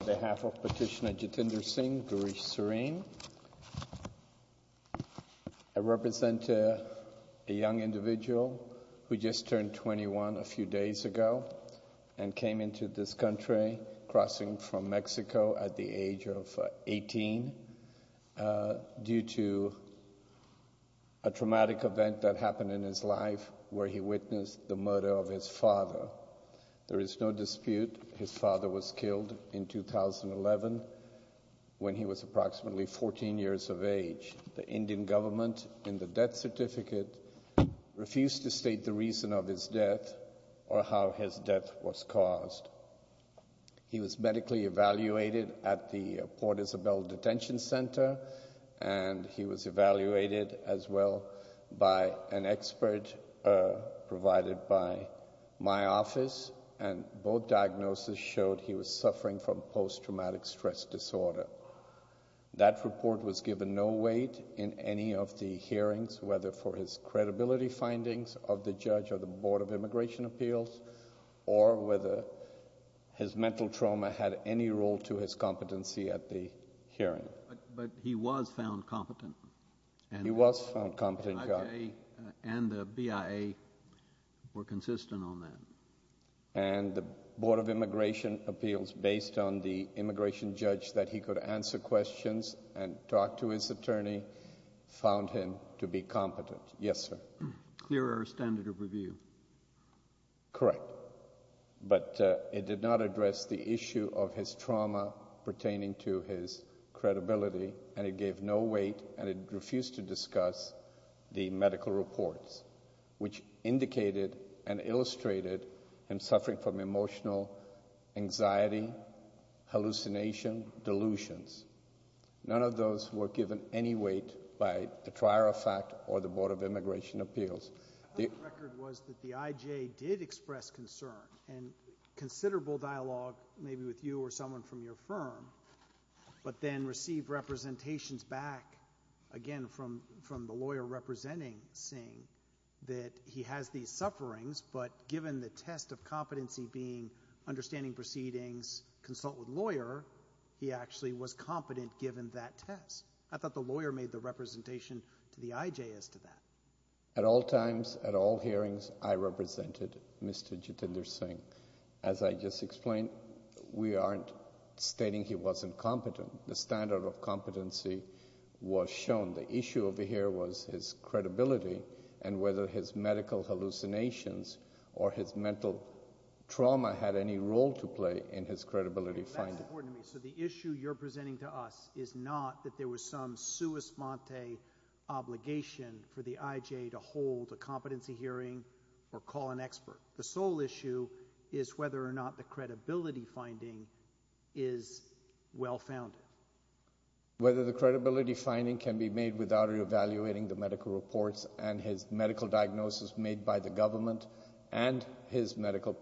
On behalf of Petitioner Jatinder Singh, Girish Serene, I represent a young individual who just turned 21 a few days ago and came into this country crossing from Mexico at the age of 18 due to a traumatic event that happened in his life where he witnessed the murder of his father. There is no dispute his father was killed in 2011 when he was approximately 14 years of age. The Indian government in the death certificate refused to state the reason of his death or how his death was caused. He was medically evaluated at the Port Isabel Detention Center and he was evaluated as well by an expert provided by my office and both diagnoses showed he was suffering from post traumatic stress disorder. That report was given no weight in any of the hearings, whether for his credibility findings of the judge or the Board of Immigration Appeals or whether his mental trauma had any role to his competency at the hearing. But he was found competent. He was found competent. And the BIA were consistent on that. And the Board of Immigration Appeals, based on the immigration judge that he could answer questions and talk to his attorney, found him to be competent. Yes, sir. Clearer standard of review. Correct. But it did not address the issue of his trauma pertaining to his credibility and it gave no weight and it refused to discuss the medical reports, which indicated and illustrated him suffering from emotional anxiety, hallucination, delusions. None of those were given any weight by the trier of fact or the Board of Immigration Appeals. The record was that the IJ did express concern and considerable dialogue, maybe with you or someone from your firm, but then received representations back, again, from the lawyer representing Singh, that he has these sufferings, but given the test of competency being understanding proceedings, consult with lawyer, he actually was competent given that test. I thought the lawyer made the representation to the IJ as to that. At all times, at all hearings, I represented Mr. Jitender Singh. As I just explained, we aren't stating he wasn't competent. The standard of competency was shown. The issue over here was his credibility and whether his medical hallucinations or his mental trauma had any role to play in his credibility finding. That's important to me. So the issue you're presenting to us is not that there was some sua sponte obligation for the IJ to hold a competency hearing or call an expert. The sole issue is whether or not the credibility finding is well-founded. Whether the credibility finding can be made without re-evaluating the medical reports and his medical diagnosis made by the government and his medical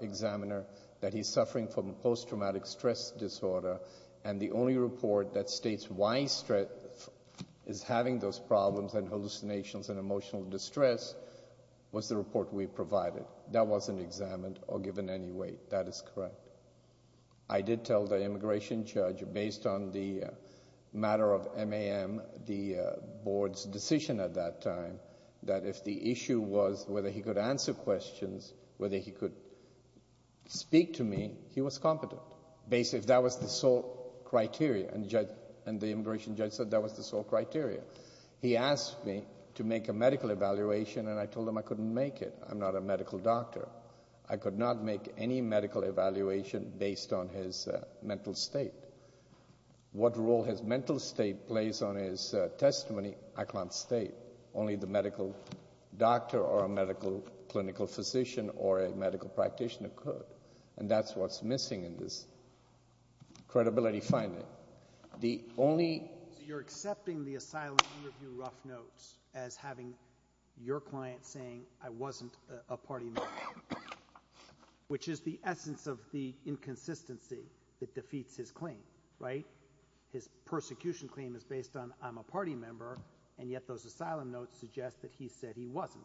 examiner that he's suffering from post-traumatic stress disorder, and the only report that states why he is having those That wasn't examined or given any weight. That is correct. I did tell the immigration judge, based on the matter of MAM, the board's decision at that time, that if the issue was whether he could answer questions, whether he could speak to me, he was competent, if that was the sole criteria. And the immigration judge said that was the sole criteria. He asked me to make a medical evaluation, and I told him I couldn't make it. I'm not a medical doctor. I could not make any medical evaluation based on his mental state. What role his mental state plays on his testimony, I can't state. Only the medical doctor or a medical clinical physician or a medical practitioner could. And that's what's missing in this credibility finding. The only So you're accepting the asylum interview rough notes as having your client saying, I wasn't a party member, which is the essence of the inconsistency that defeats his claim, right? His persecution claim is based on, I'm a party member, and yet those asylum notes suggest that he said he wasn't.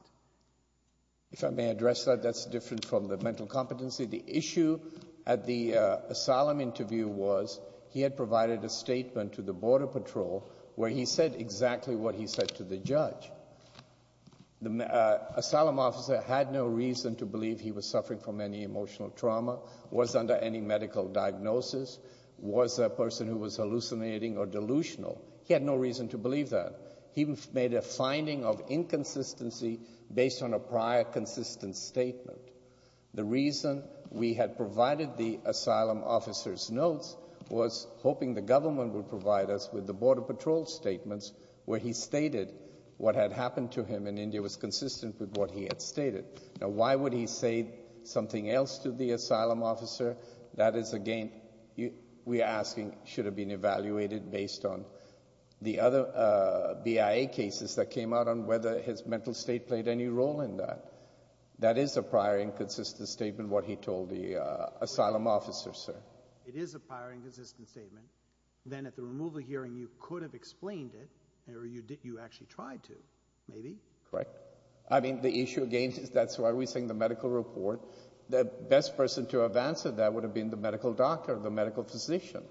If I may address that, that's different from the mental competency. The issue at the asylum interview was he had provided a statement to the Border Patrol where he said exactly what he said to the judge. The asylum officer had no reason to believe he was suffering from any emotional trauma, was under any medical diagnosis, was a person who was hallucinating or delusional. He had no reason to believe that. He made a finding of inconsistency based on a prior consistent statement. The reason we had provided the asylum officer's notes was hoping the government would provide us with the Border Patrol statements where he stated what had happened to him in India was consistent with what he had stated. Now, why would he say something else to the asylum officer? That is again, we're asking, should have been evaluated based on the other BIA cases that came out on whether his mental state played any role in that. That is a prior inconsistent statement, what he told the asylum officer, sir. It is a prior inconsistent statement. Then at the removal hearing, you could have explained it, or you actually tried to, maybe? Correct. I mean, the issue again, that's why we're saying the medical report, the best person to have answered that would have been the medical doctor, the medical physician.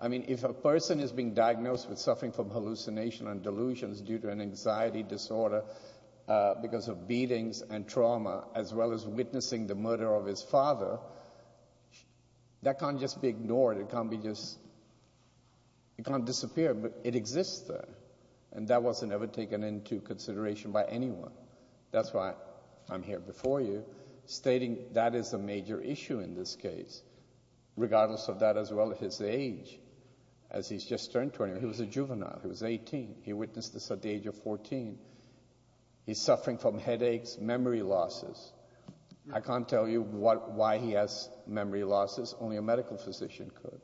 I mean, if a person is being diagnosed with suffering from hallucination and delusions due to an anxiety disorder because of beatings and trauma, as well as witnessing the murder of his father, that can't just be ignored, it can't be just, it can't disappear, but it exists there, and that wasn't ever taken into consideration by anyone. That's why I'm here before you, stating that is a major issue in this case, regardless of that as well as his age, as he's just turned 20, he was a juvenile, he was 18, he witnessed this at the age of 14. He's suffering from headaches, memory losses. I can't tell you why he has memory losses, only a medical physician could.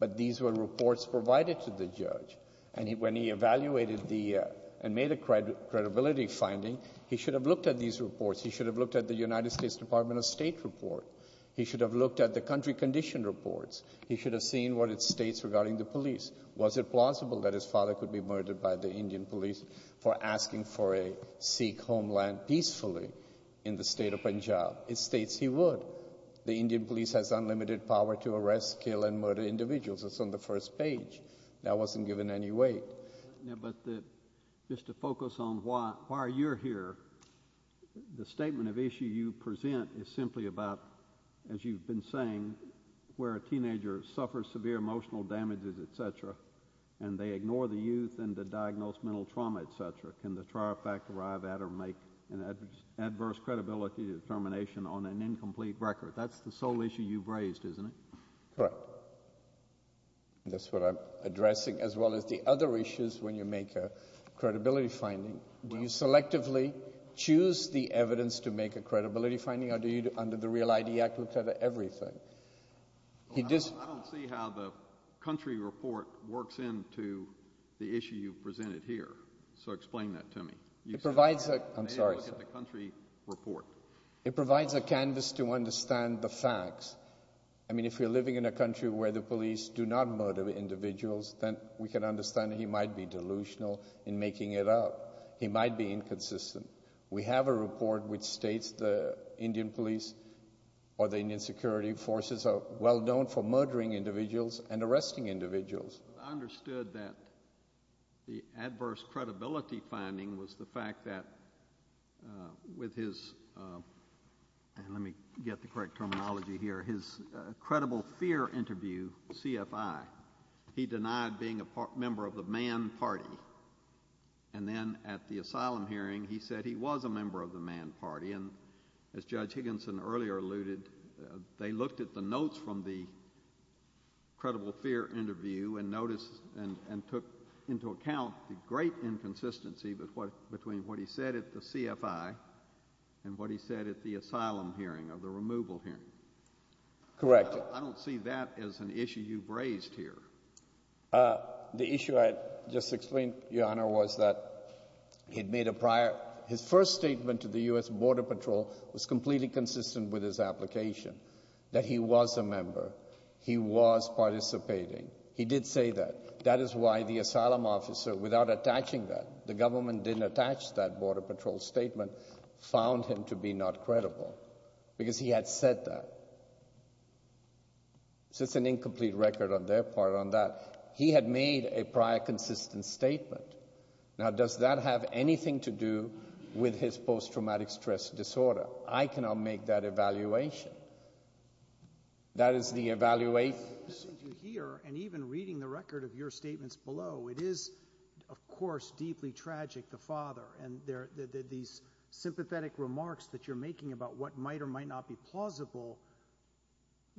But these were reports provided to the judge, and when he evaluated the, and made a credibility finding, he should have looked at these reports. He should have looked at the United States Department of State report. He should have looked at the country condition reports. He should have seen what it states regarding the police. Was it plausible that his father could be murdered by the Indian police for asking for a Sikh homeland peacefully in the state of Punjab? It states he would. The Indian police has unlimited power to arrest, kill, and murder individuals. It's on the first page. That wasn't given any weight. But just to focus on why you're here, the statement of issue you present is simply about, as you've been saying, where a teenager suffers severe emotional damages, et cetera, and they ignore the youth and the diagnosed mental trauma, et cetera. Can the trial fact arrive at or make an adverse credibility determination on an incomplete record? That's the sole issue you've raised, isn't it? Correct. And that's what I'm addressing, as well as the other issues when you make a credibility finding. Do you selectively choose the evidence to make a credibility finding, or do you, under the REAL ID Act, look at everything? I don't see how the country report works into the issue you've presented here. So explain that to me. You said, I'm sorry, sir. You said, look at the country report. It provides a canvas to understand the facts. I mean, if you're living in a country where the police do not murder individuals, then we can understand that he might be delusional in making it up. He might be inconsistent. We have a report which states the Indian police or the Indian security forces are well known for murdering individuals and arresting individuals. I understood that the adverse credibility finding was the fact that with his, let me get the correct terminology here, his credible fear interview, CFI. He denied being a member of the Mann Party. And then at the asylum hearing, he said he was a member of the Mann Party. And as Judge Higginson earlier alluded, they looked at the notes from the credible fear interview and noticed and took into account the great inconsistency between what he said at the CFI and what he said at the asylum hearing or the removal hearing. Correct. I don't see that as an issue you've raised here. The issue I just explained, Your Honor, was that he'd made a prior, his first statement to the U.S. Border Patrol was completely consistent with his application, that he was a member. He was participating. He did say that. That is why the asylum officer, without attaching that, the government didn't attach that Border Patrol was not credible, because he had said that. So it's an incomplete record on their part on that. He had made a prior consistent statement. Now does that have anything to do with his post-traumatic stress disorder? I cannot make that evaluation. That is the evaluation. Since you're here and even reading the record of your statements below, it is, of course, deeply tragic, the father. And these sympathetic remarks that you're making about what might or might not be plausible,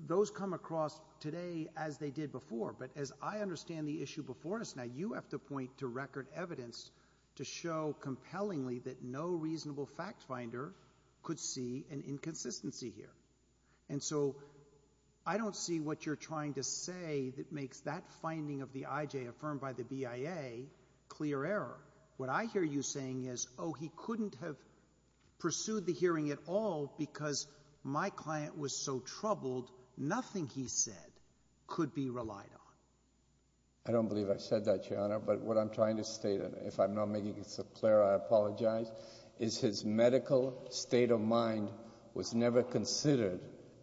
those come across today as they did before. But as I understand the issue before us now, you have to point to record evidence to show compellingly that no reasonable fact finder could see an inconsistency here. And so I don't see what you're trying to say that makes that finding of the IJ affirmed by the BIA clear error. What I hear you saying is, oh, he couldn't have pursued the hearing at all because my client was so troubled, nothing he said could be relied on. I don't believe I said that, Your Honor. But what I'm trying to state, and if I'm not making it clear, I apologize, is his medical state of mind was never considered,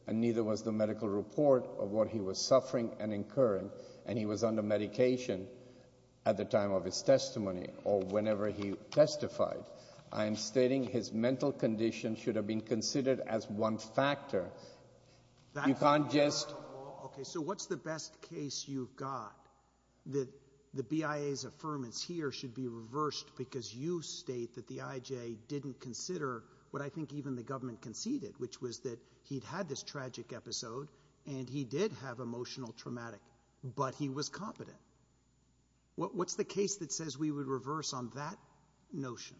and neither was the medical report of what he was suffering and incurring, and he was under medication at the time of his testimony or whenever he testified. I am stating his mental condition should have been considered as one factor. You can't just... Okay, so what's the best case you've got that the BIA's affirmance here should be reversed because you state that the IJ didn't consider what I think even the government conceded, which was that he'd had this tragic episode and he did have emotional traumatic, but he was competent. What's the case that says we would reverse on that notion?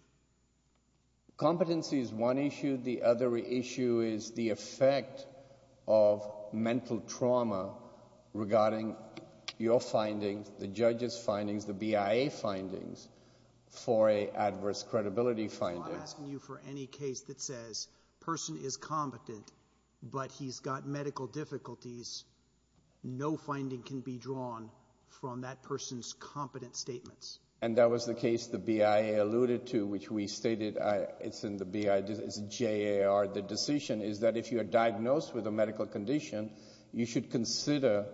Competency is one issue. The other issue is the effect of mental trauma regarding your findings, the judge's findings, the BIA findings, for an adverse credibility finding. I'm not asking you for any case that says person is competent, but he's got medical difficulties. No finding can be drawn from that person's competent statements. And that was the case the BIA alluded to, which we stated it's in the BIA, it's JAR, the decision is that if you are diagnosed with a medical condition, you should consider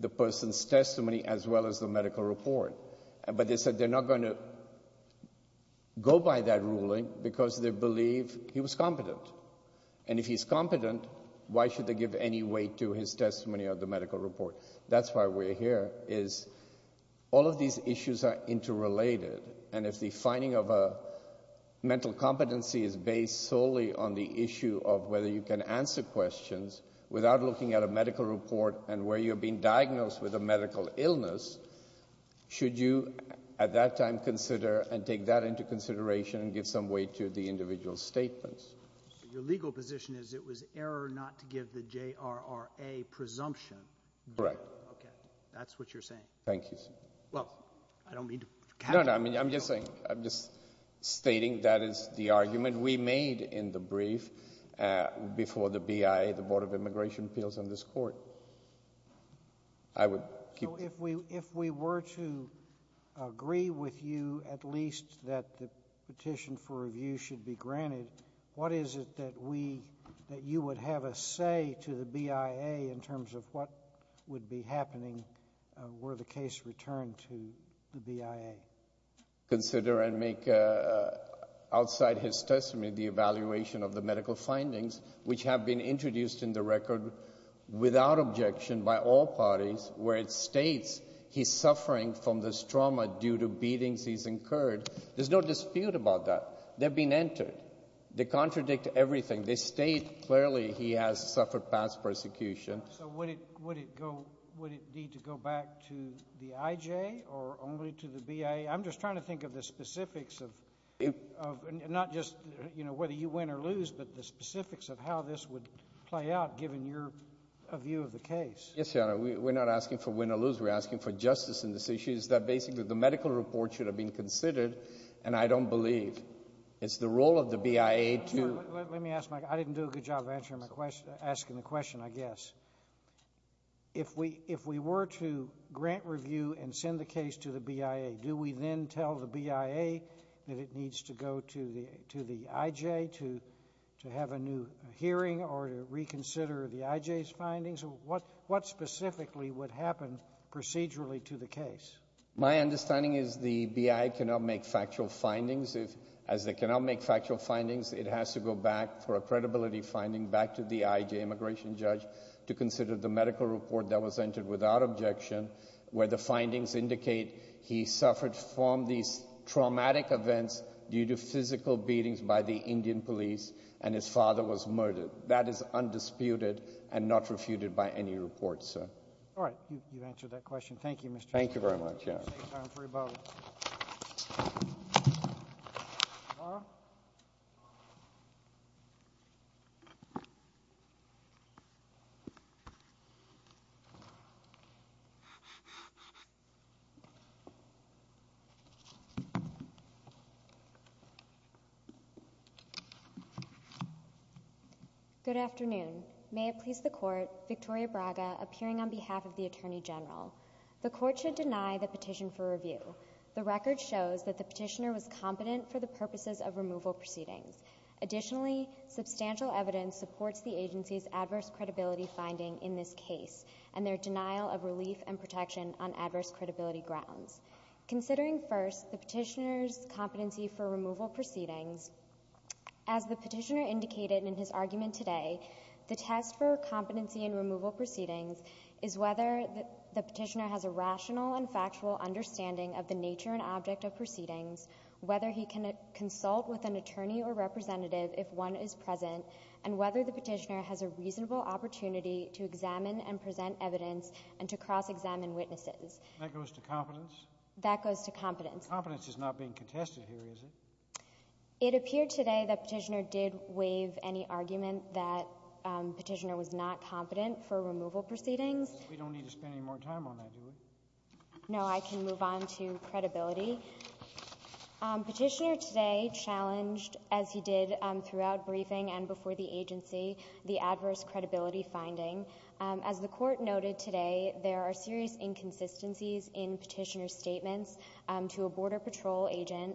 the person's testimony as well as the medical report. But they said they're not going to go by that ruling because they believe he was competent. And if he's competent, why should they give any weight to his testimony or the medical report? That's why we're here is all of these issues are interrelated, and if the finding of a mental competency is based solely on the issue of whether you can answer questions without looking at a medical report and where you're being diagnosed with a medical illness, should you at that time consider and take that into consideration and give some weight to the individual statements? Your legal position is it was error not to give the JRRA presumption. Correct. Okay. That's what you're saying. Thank you, sir. Well, I don't mean to catch you. No, no, I mean, I'm just saying, I'm just stating that is the argument we made in the brief before the BIA, the Board of Immigration Appeals in this court. I would keep... So if we were to agree with you at least that the petition for review should be granted, what is it that you would have us say to the BIA in terms of what would be happening were the case returned to the BIA? Consider and make outside his testimony the evaluation of the medical findings which have been introduced in the record without objection by all parties where it states he's suffering from this trauma due to beatings he's incurred. There's no dispute about that. They've been entered. They contradict everything. They state clearly he has suffered past persecution. So would it need to go back to the IJ or only to the BIA? I'm just trying to think of the specifics of not just whether you win or lose, but the play out given your view of the case. Yes, Your Honor. We're not asking for win or lose. We're asking for justice in this issue is that basically the medical report should have been considered, and I don't believe it's the role of the BIA to... Let me ask my... I didn't do a good job of answering my question, asking the question, I guess. If we were to grant review and send the case to the BIA, do we then tell the BIA that it reconsider the IJ's findings? What specifically would happen procedurally to the case? My understanding is the BIA cannot make factual findings. As they cannot make factual findings, it has to go back for a credibility finding back to the IJ immigration judge to consider the medical report that was entered without objection where the findings indicate he suffered from these traumatic events due to physical beatings by the Indian police, and his father was murdered. That is undisputed and not refuted by any report, sir. All right. You've answered that question. Thank you, Mr. Chief Justice. Thank you very much, Your Honor. Let's take a time for rebuttal. Good afternoon. May it please the Court, Victoria Braga appearing on behalf of the Attorney General. The Court should deny the petition for review. The record shows that the petitioner was competent for the purposes of removal proceedings. Additionally, substantial evidence supports the agency's adverse credibility finding in this case and their denial of relief and protection on adverse credibility grounds. Considering first the petitioner's competency for removal proceedings, as the petitioner indicated in his argument today, the test for competency in removal proceedings is whether the petitioner has a rational and factual understanding of the nature and object of proceedings, whether he can consult with an attorney or representative if one is present, and whether the petitioner has a reasonable opportunity to examine and present evidence and to cross-examine witnesses. That goes to competence? That goes to competence. Competence is not being contested here, is it? It appeared today the petitioner did waive any argument that the petitioner was not competent for removal proceedings. We don't need to spend any more time on that, do we? No, I can move on to credibility. Petitioner today challenged, as he did throughout briefing and before the agency, the adverse credibility finding. As the Court noted today, there are serious inconsistencies in petitioner's statements to a Border Patrol agent,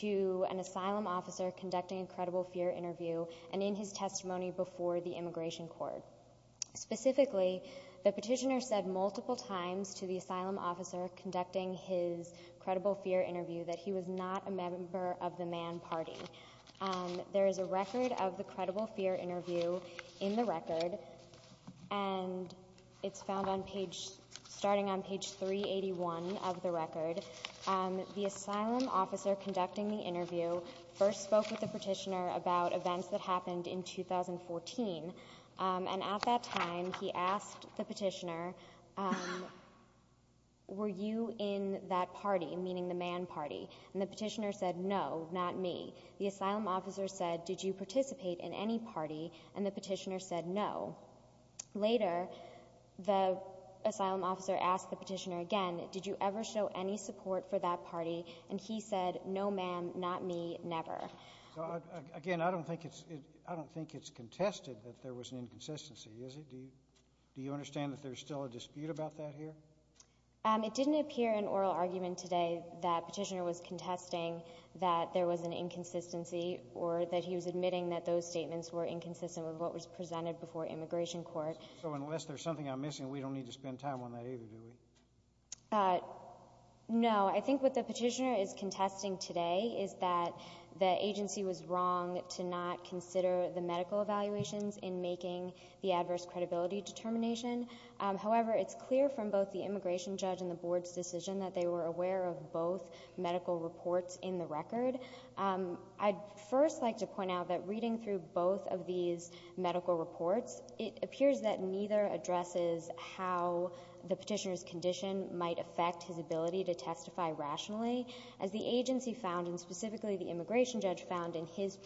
to an asylum officer conducting a credible fear interview, and in his testimony before the Immigration Court. Specifically, the petitioner said multiple times to the asylum officer conducting his credible fear interview that he was not a member of the Mann Party. There is a record of the credible fear interview in the record, and it's found on page — starting on page 381 of the record. The asylum officer conducting the interview first spoke with the petitioner about events that happened in 2014, and at that time he asked the petitioner, were you in that party, meaning the Mann Party? And the petitioner said, no, not me. The asylum officer said, did you participate in any party? And the petitioner said, no. Later, the asylum officer asked the petitioner again, did you ever show any support for that party? And he said, no, ma'am, not me, never. So, again, I don't think it's — I don't think it's contested that there was an inconsistency, is it? Do you — do you understand that there's still a dispute about that here? It didn't appear in oral argument today that petitioner was contesting that there was an inconsistency or that he was admitting that those statements were inconsistent with what was presented before Immigration Court. So unless there's something I'm missing, we don't need to spend time on that either, do we? No, I think what the petitioner is contesting today is that the agency was wrong to not consider the medical evaluations in making the adverse credibility determination. However, it's clear from both the immigration judge and the board's decision that they were aware of both medical reports in the record. I'd first like to point out that reading through both of these medical reports, it appears that neither addresses how the petitioner's condition might affect his ability to testify rationally. As the agency found, and specifically the immigration judge found in his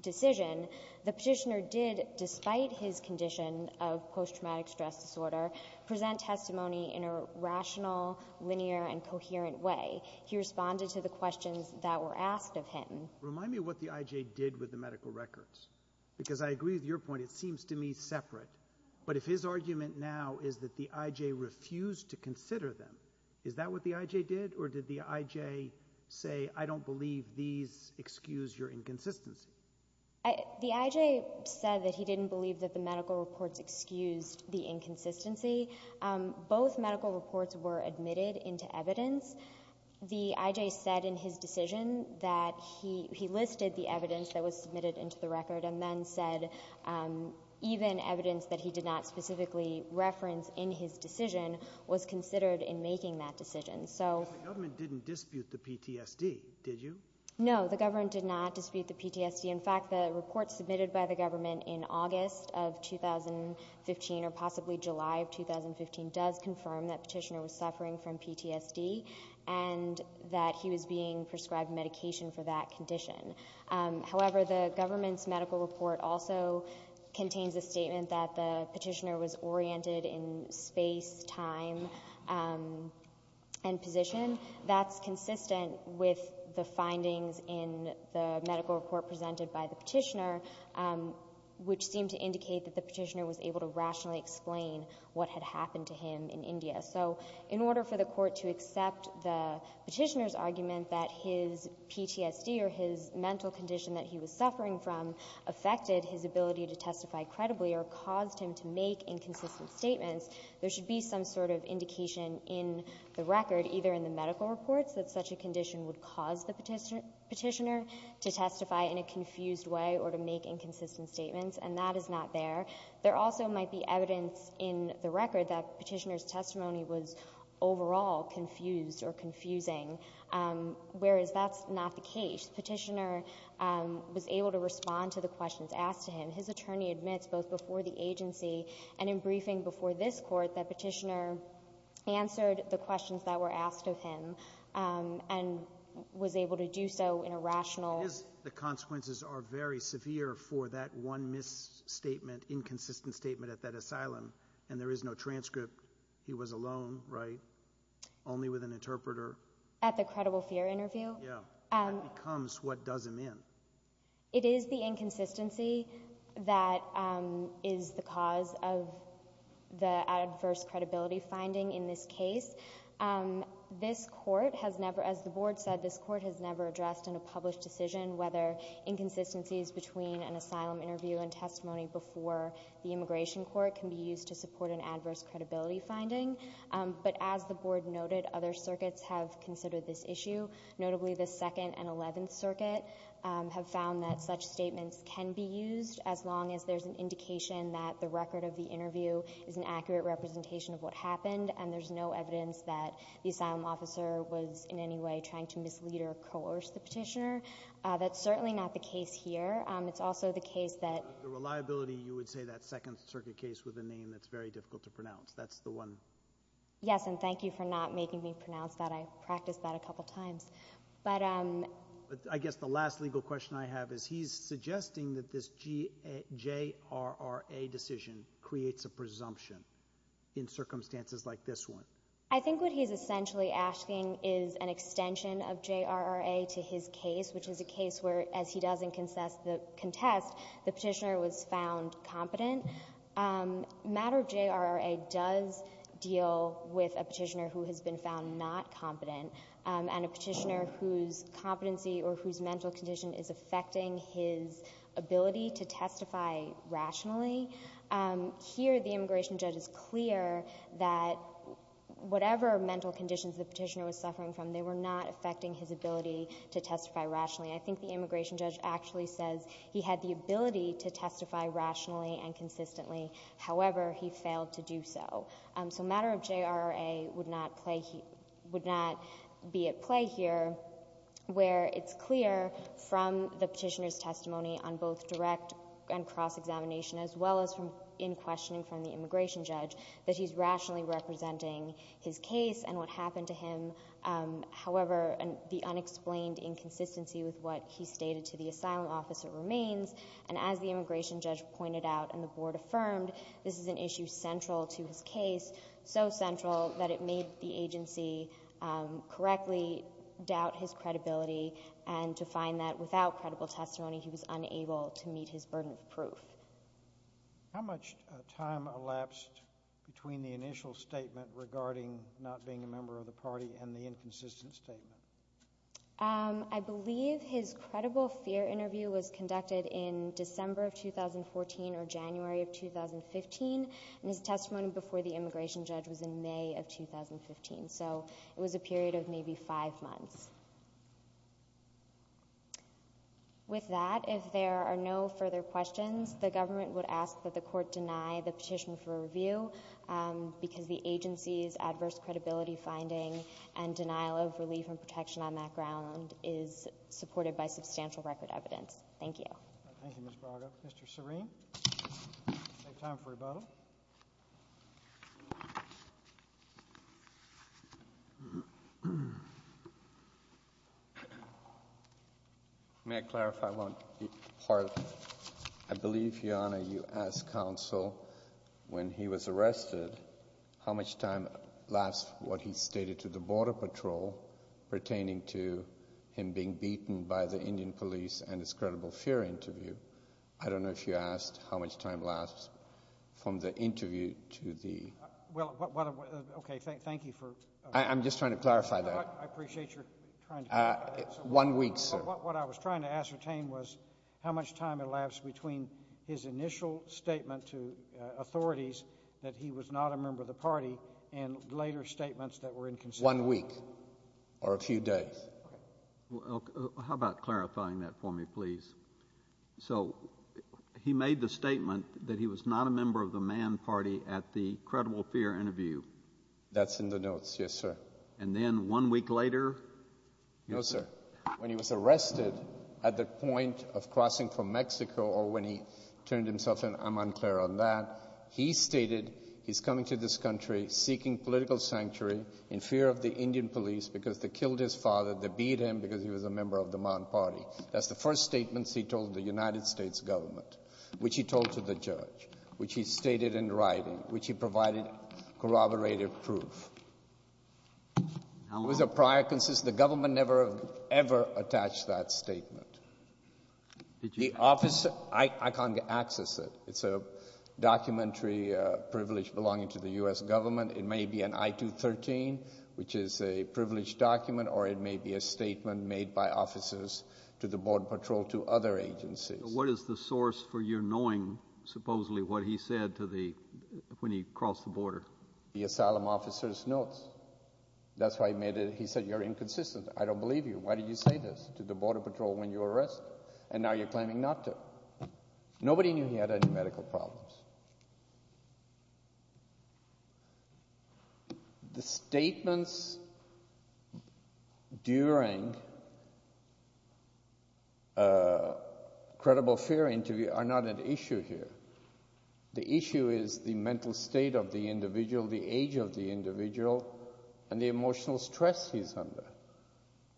decision, the petitioner did, despite his condition of post-traumatic stress disorder, present testimony in a rational, linear, and coherent way. He responded to the questions that were asked of him. Remind me what the IJ did with the medical records, because I agree with your point. It seems to me separate. But if his argument now is that the IJ refused to consider them, is that what the IJ did? Or did the IJ say, I don't believe these excuse your inconsistency? The IJ said that he didn't believe that the medical reports excused the inconsistency. Both medical reports were admitted into evidence. The IJ said in his decision that he listed the evidence that was submitted into the record and then said even evidence that he did not specifically reference in his decision was considered in making that decision. So the government didn't dispute the PTSD, did you? No. The government did not dispute the PTSD. In fact, the report submitted by the government in August of 2015, or possibly July of 2015, does confirm that petitioner was suffering from PTSD and that he was being prescribed medication for that condition. However, the government's medical report also contains a statement that the petitioner was oriented in space, time, and position. That's consistent with the findings in the medical report presented by the petitioner, which seemed to indicate that the petitioner was able to rationally explain what had happened to him in India. So in order for the Court to accept the petitioner's argument that his PTSD or his mental condition that he was suffering from affected his ability to testify credibly or caused him to make inconsistent statements, there should be some sort of indication in the record, either in the medical reports, that such a condition would cause the petitioner to testify in a confused way or to make inconsistent statements, and that is not there. There also might be evidence in the record that petitioner's testimony was overall confused or confusing, whereas that's not the case. The petitioner was able to respond to the questions asked to him. His attorney admits both before the agency and in briefing before this Court that petitioner answered the questions that were asked of him and was able to do so in a rational way. For that one misstatement, inconsistent statement at that asylum, and there is no transcript, he was alone, right? Only with an interpreter? At the credible fear interview? Yeah. That becomes what does him in. It is the inconsistency that is the cause of the adverse credibility finding in this case. This Court has never, as the Board said, this Court has never addressed in a published decision whether inconsistencies between an asylum interview and testimony before the Immigration Court can be used to support an adverse credibility finding. But as the Board noted, other circuits have considered this issue, notably the Second and Eleventh Circuit, have found that such statements can be used as long as there's an indication that the record of the interview is an accurate representation of what happened, and there's no evidence that the asylum officer was in any way trying to mislead or coerce the petitioner. That's certainly not the case here. It's also the case that The reliability, you would say, that Second Circuit case with a name that's very difficult to pronounce. That's the one? Yes, and thank you for not making me pronounce that. I practiced that a couple times. But But I guess the last legal question I have is he's suggesting that this J.R.R.A. decision creates a presumption in circumstances like this one. I think what he's essentially asking is an extension of J.R.R.A. to his case, which is a case where, as he does in contest, the petitioner was found competent. The matter of J.R.R.A. does deal with a petitioner who has been found not competent and a petitioner whose competency or whose mental condition is affecting his ability to testify rationally. Here, the immigration judge is clear that whatever mental conditions the petitioner was suffering from, they were not affecting his ability to testify rationally. I think the immigration judge actually says he had the ability to testify rationally and consistently. However, he failed to do so. So matter of J.R.R.A. would not play, would not be at play here, where it's clear from the petitioner's testimony on both direct and cross-examination, as well as in questioning from the immigration judge, that he's rationally representing his case and what happened to him. However, the unexplained inconsistency with what he stated to the asylum officer remains. And as the immigration judge pointed out and the Board affirmed, this is an issue central to his case, so central that it made the agency correctly doubt his credibility and to find that without credible testimony, he was unable to meet his burden of proof. How much time elapsed between the initial statement regarding not being a member of the party and the inconsistent statement? I believe his credible fear interview was conducted in December of 2014 or January of 2015, and his testimony before the immigration judge was in May of 2015. So it was a period of maybe five months. With that, if there are no further questions, the government would ask that the court deny the petition for review because the agency's adverse credibility finding and denial of relief and protection on that ground is supported by substantial record evidence. Thank you. Thank you, Ms. Braga. Mr. Serene? I believe, Your Honor, you asked counsel when he was arrested how much time elapsed what he stated to the border patrol pertaining to him being beaten by the Indian police and his credible fear interview. I don't know if you asked how much time elapsed from the interview to the... Well, what... Okay, thank you for... I'm just trying to clarify that. I appreciate you're trying to clarify that. One week, sir. What I was trying to ascertain was how much time elapsed between his initial statement to authorities that he was not a member of the party and later statements that were inconsistent. One week or a few days. Okay. How about clarifying that for me, please? So he made the statement that he was not a member of the Man Party at the credible fear interview. That's in the notes. Yes, sir. And then one week later? No, sir. When he was arrested at the point of crossing from Mexico or when he turned himself in, I'm unclear on that. He stated he's coming to this country seeking political sanctuary in fear of the Indian police because they killed his father, they beat him because he was a member of the Man Party. That's the first statements he told the United States government, which he told to the judge, which he stated in writing, which he provided corroborated proof. How long? It was a prior... The government never ever attached that statement. The office... I can't access it. It's a documentary privilege belonging to the US government. It may be an I-213, which is a privileged document, or it may be a statement made by officers to the border patrol to other agencies. What is the source for your knowing, supposedly, what he said to the... when he crossed the border? The asylum officer's notes. That's why he made it... He said, you're inconsistent. I don't believe you. Why did you say this to the border patrol when you were arrested? And now you're claiming not to. Nobody knew he had any medical problems. The statements during a credible fear interview are not an issue here. The issue is the mental state of the individual, the age of the individual, and the emotional stress he's under.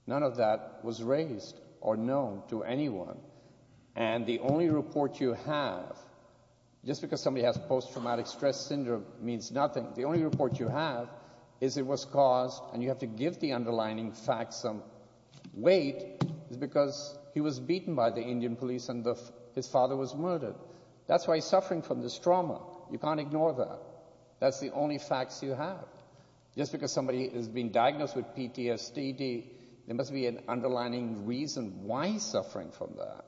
None of that was raised or known to anyone. And the only report you have, just because somebody has post-traumatic stress syndrome means nothing. The only report you have is it was caused, and you have to give the underlining facts some weight, is because he was beaten by the Indian police and his father was murdered. That's why he's suffering from this trauma. You can't ignore that. That's the only facts you have. Just because somebody has been diagnosed with PTSD, there must be an underlining reason why he's suffering from that.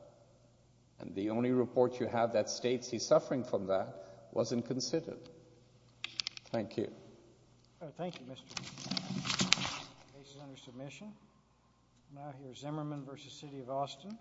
And the only report you have that states he's suffering from that wasn't considered. Thank you. Thank you, Mr. The case is under submission. Now here's Zimmerman v. City of Austin.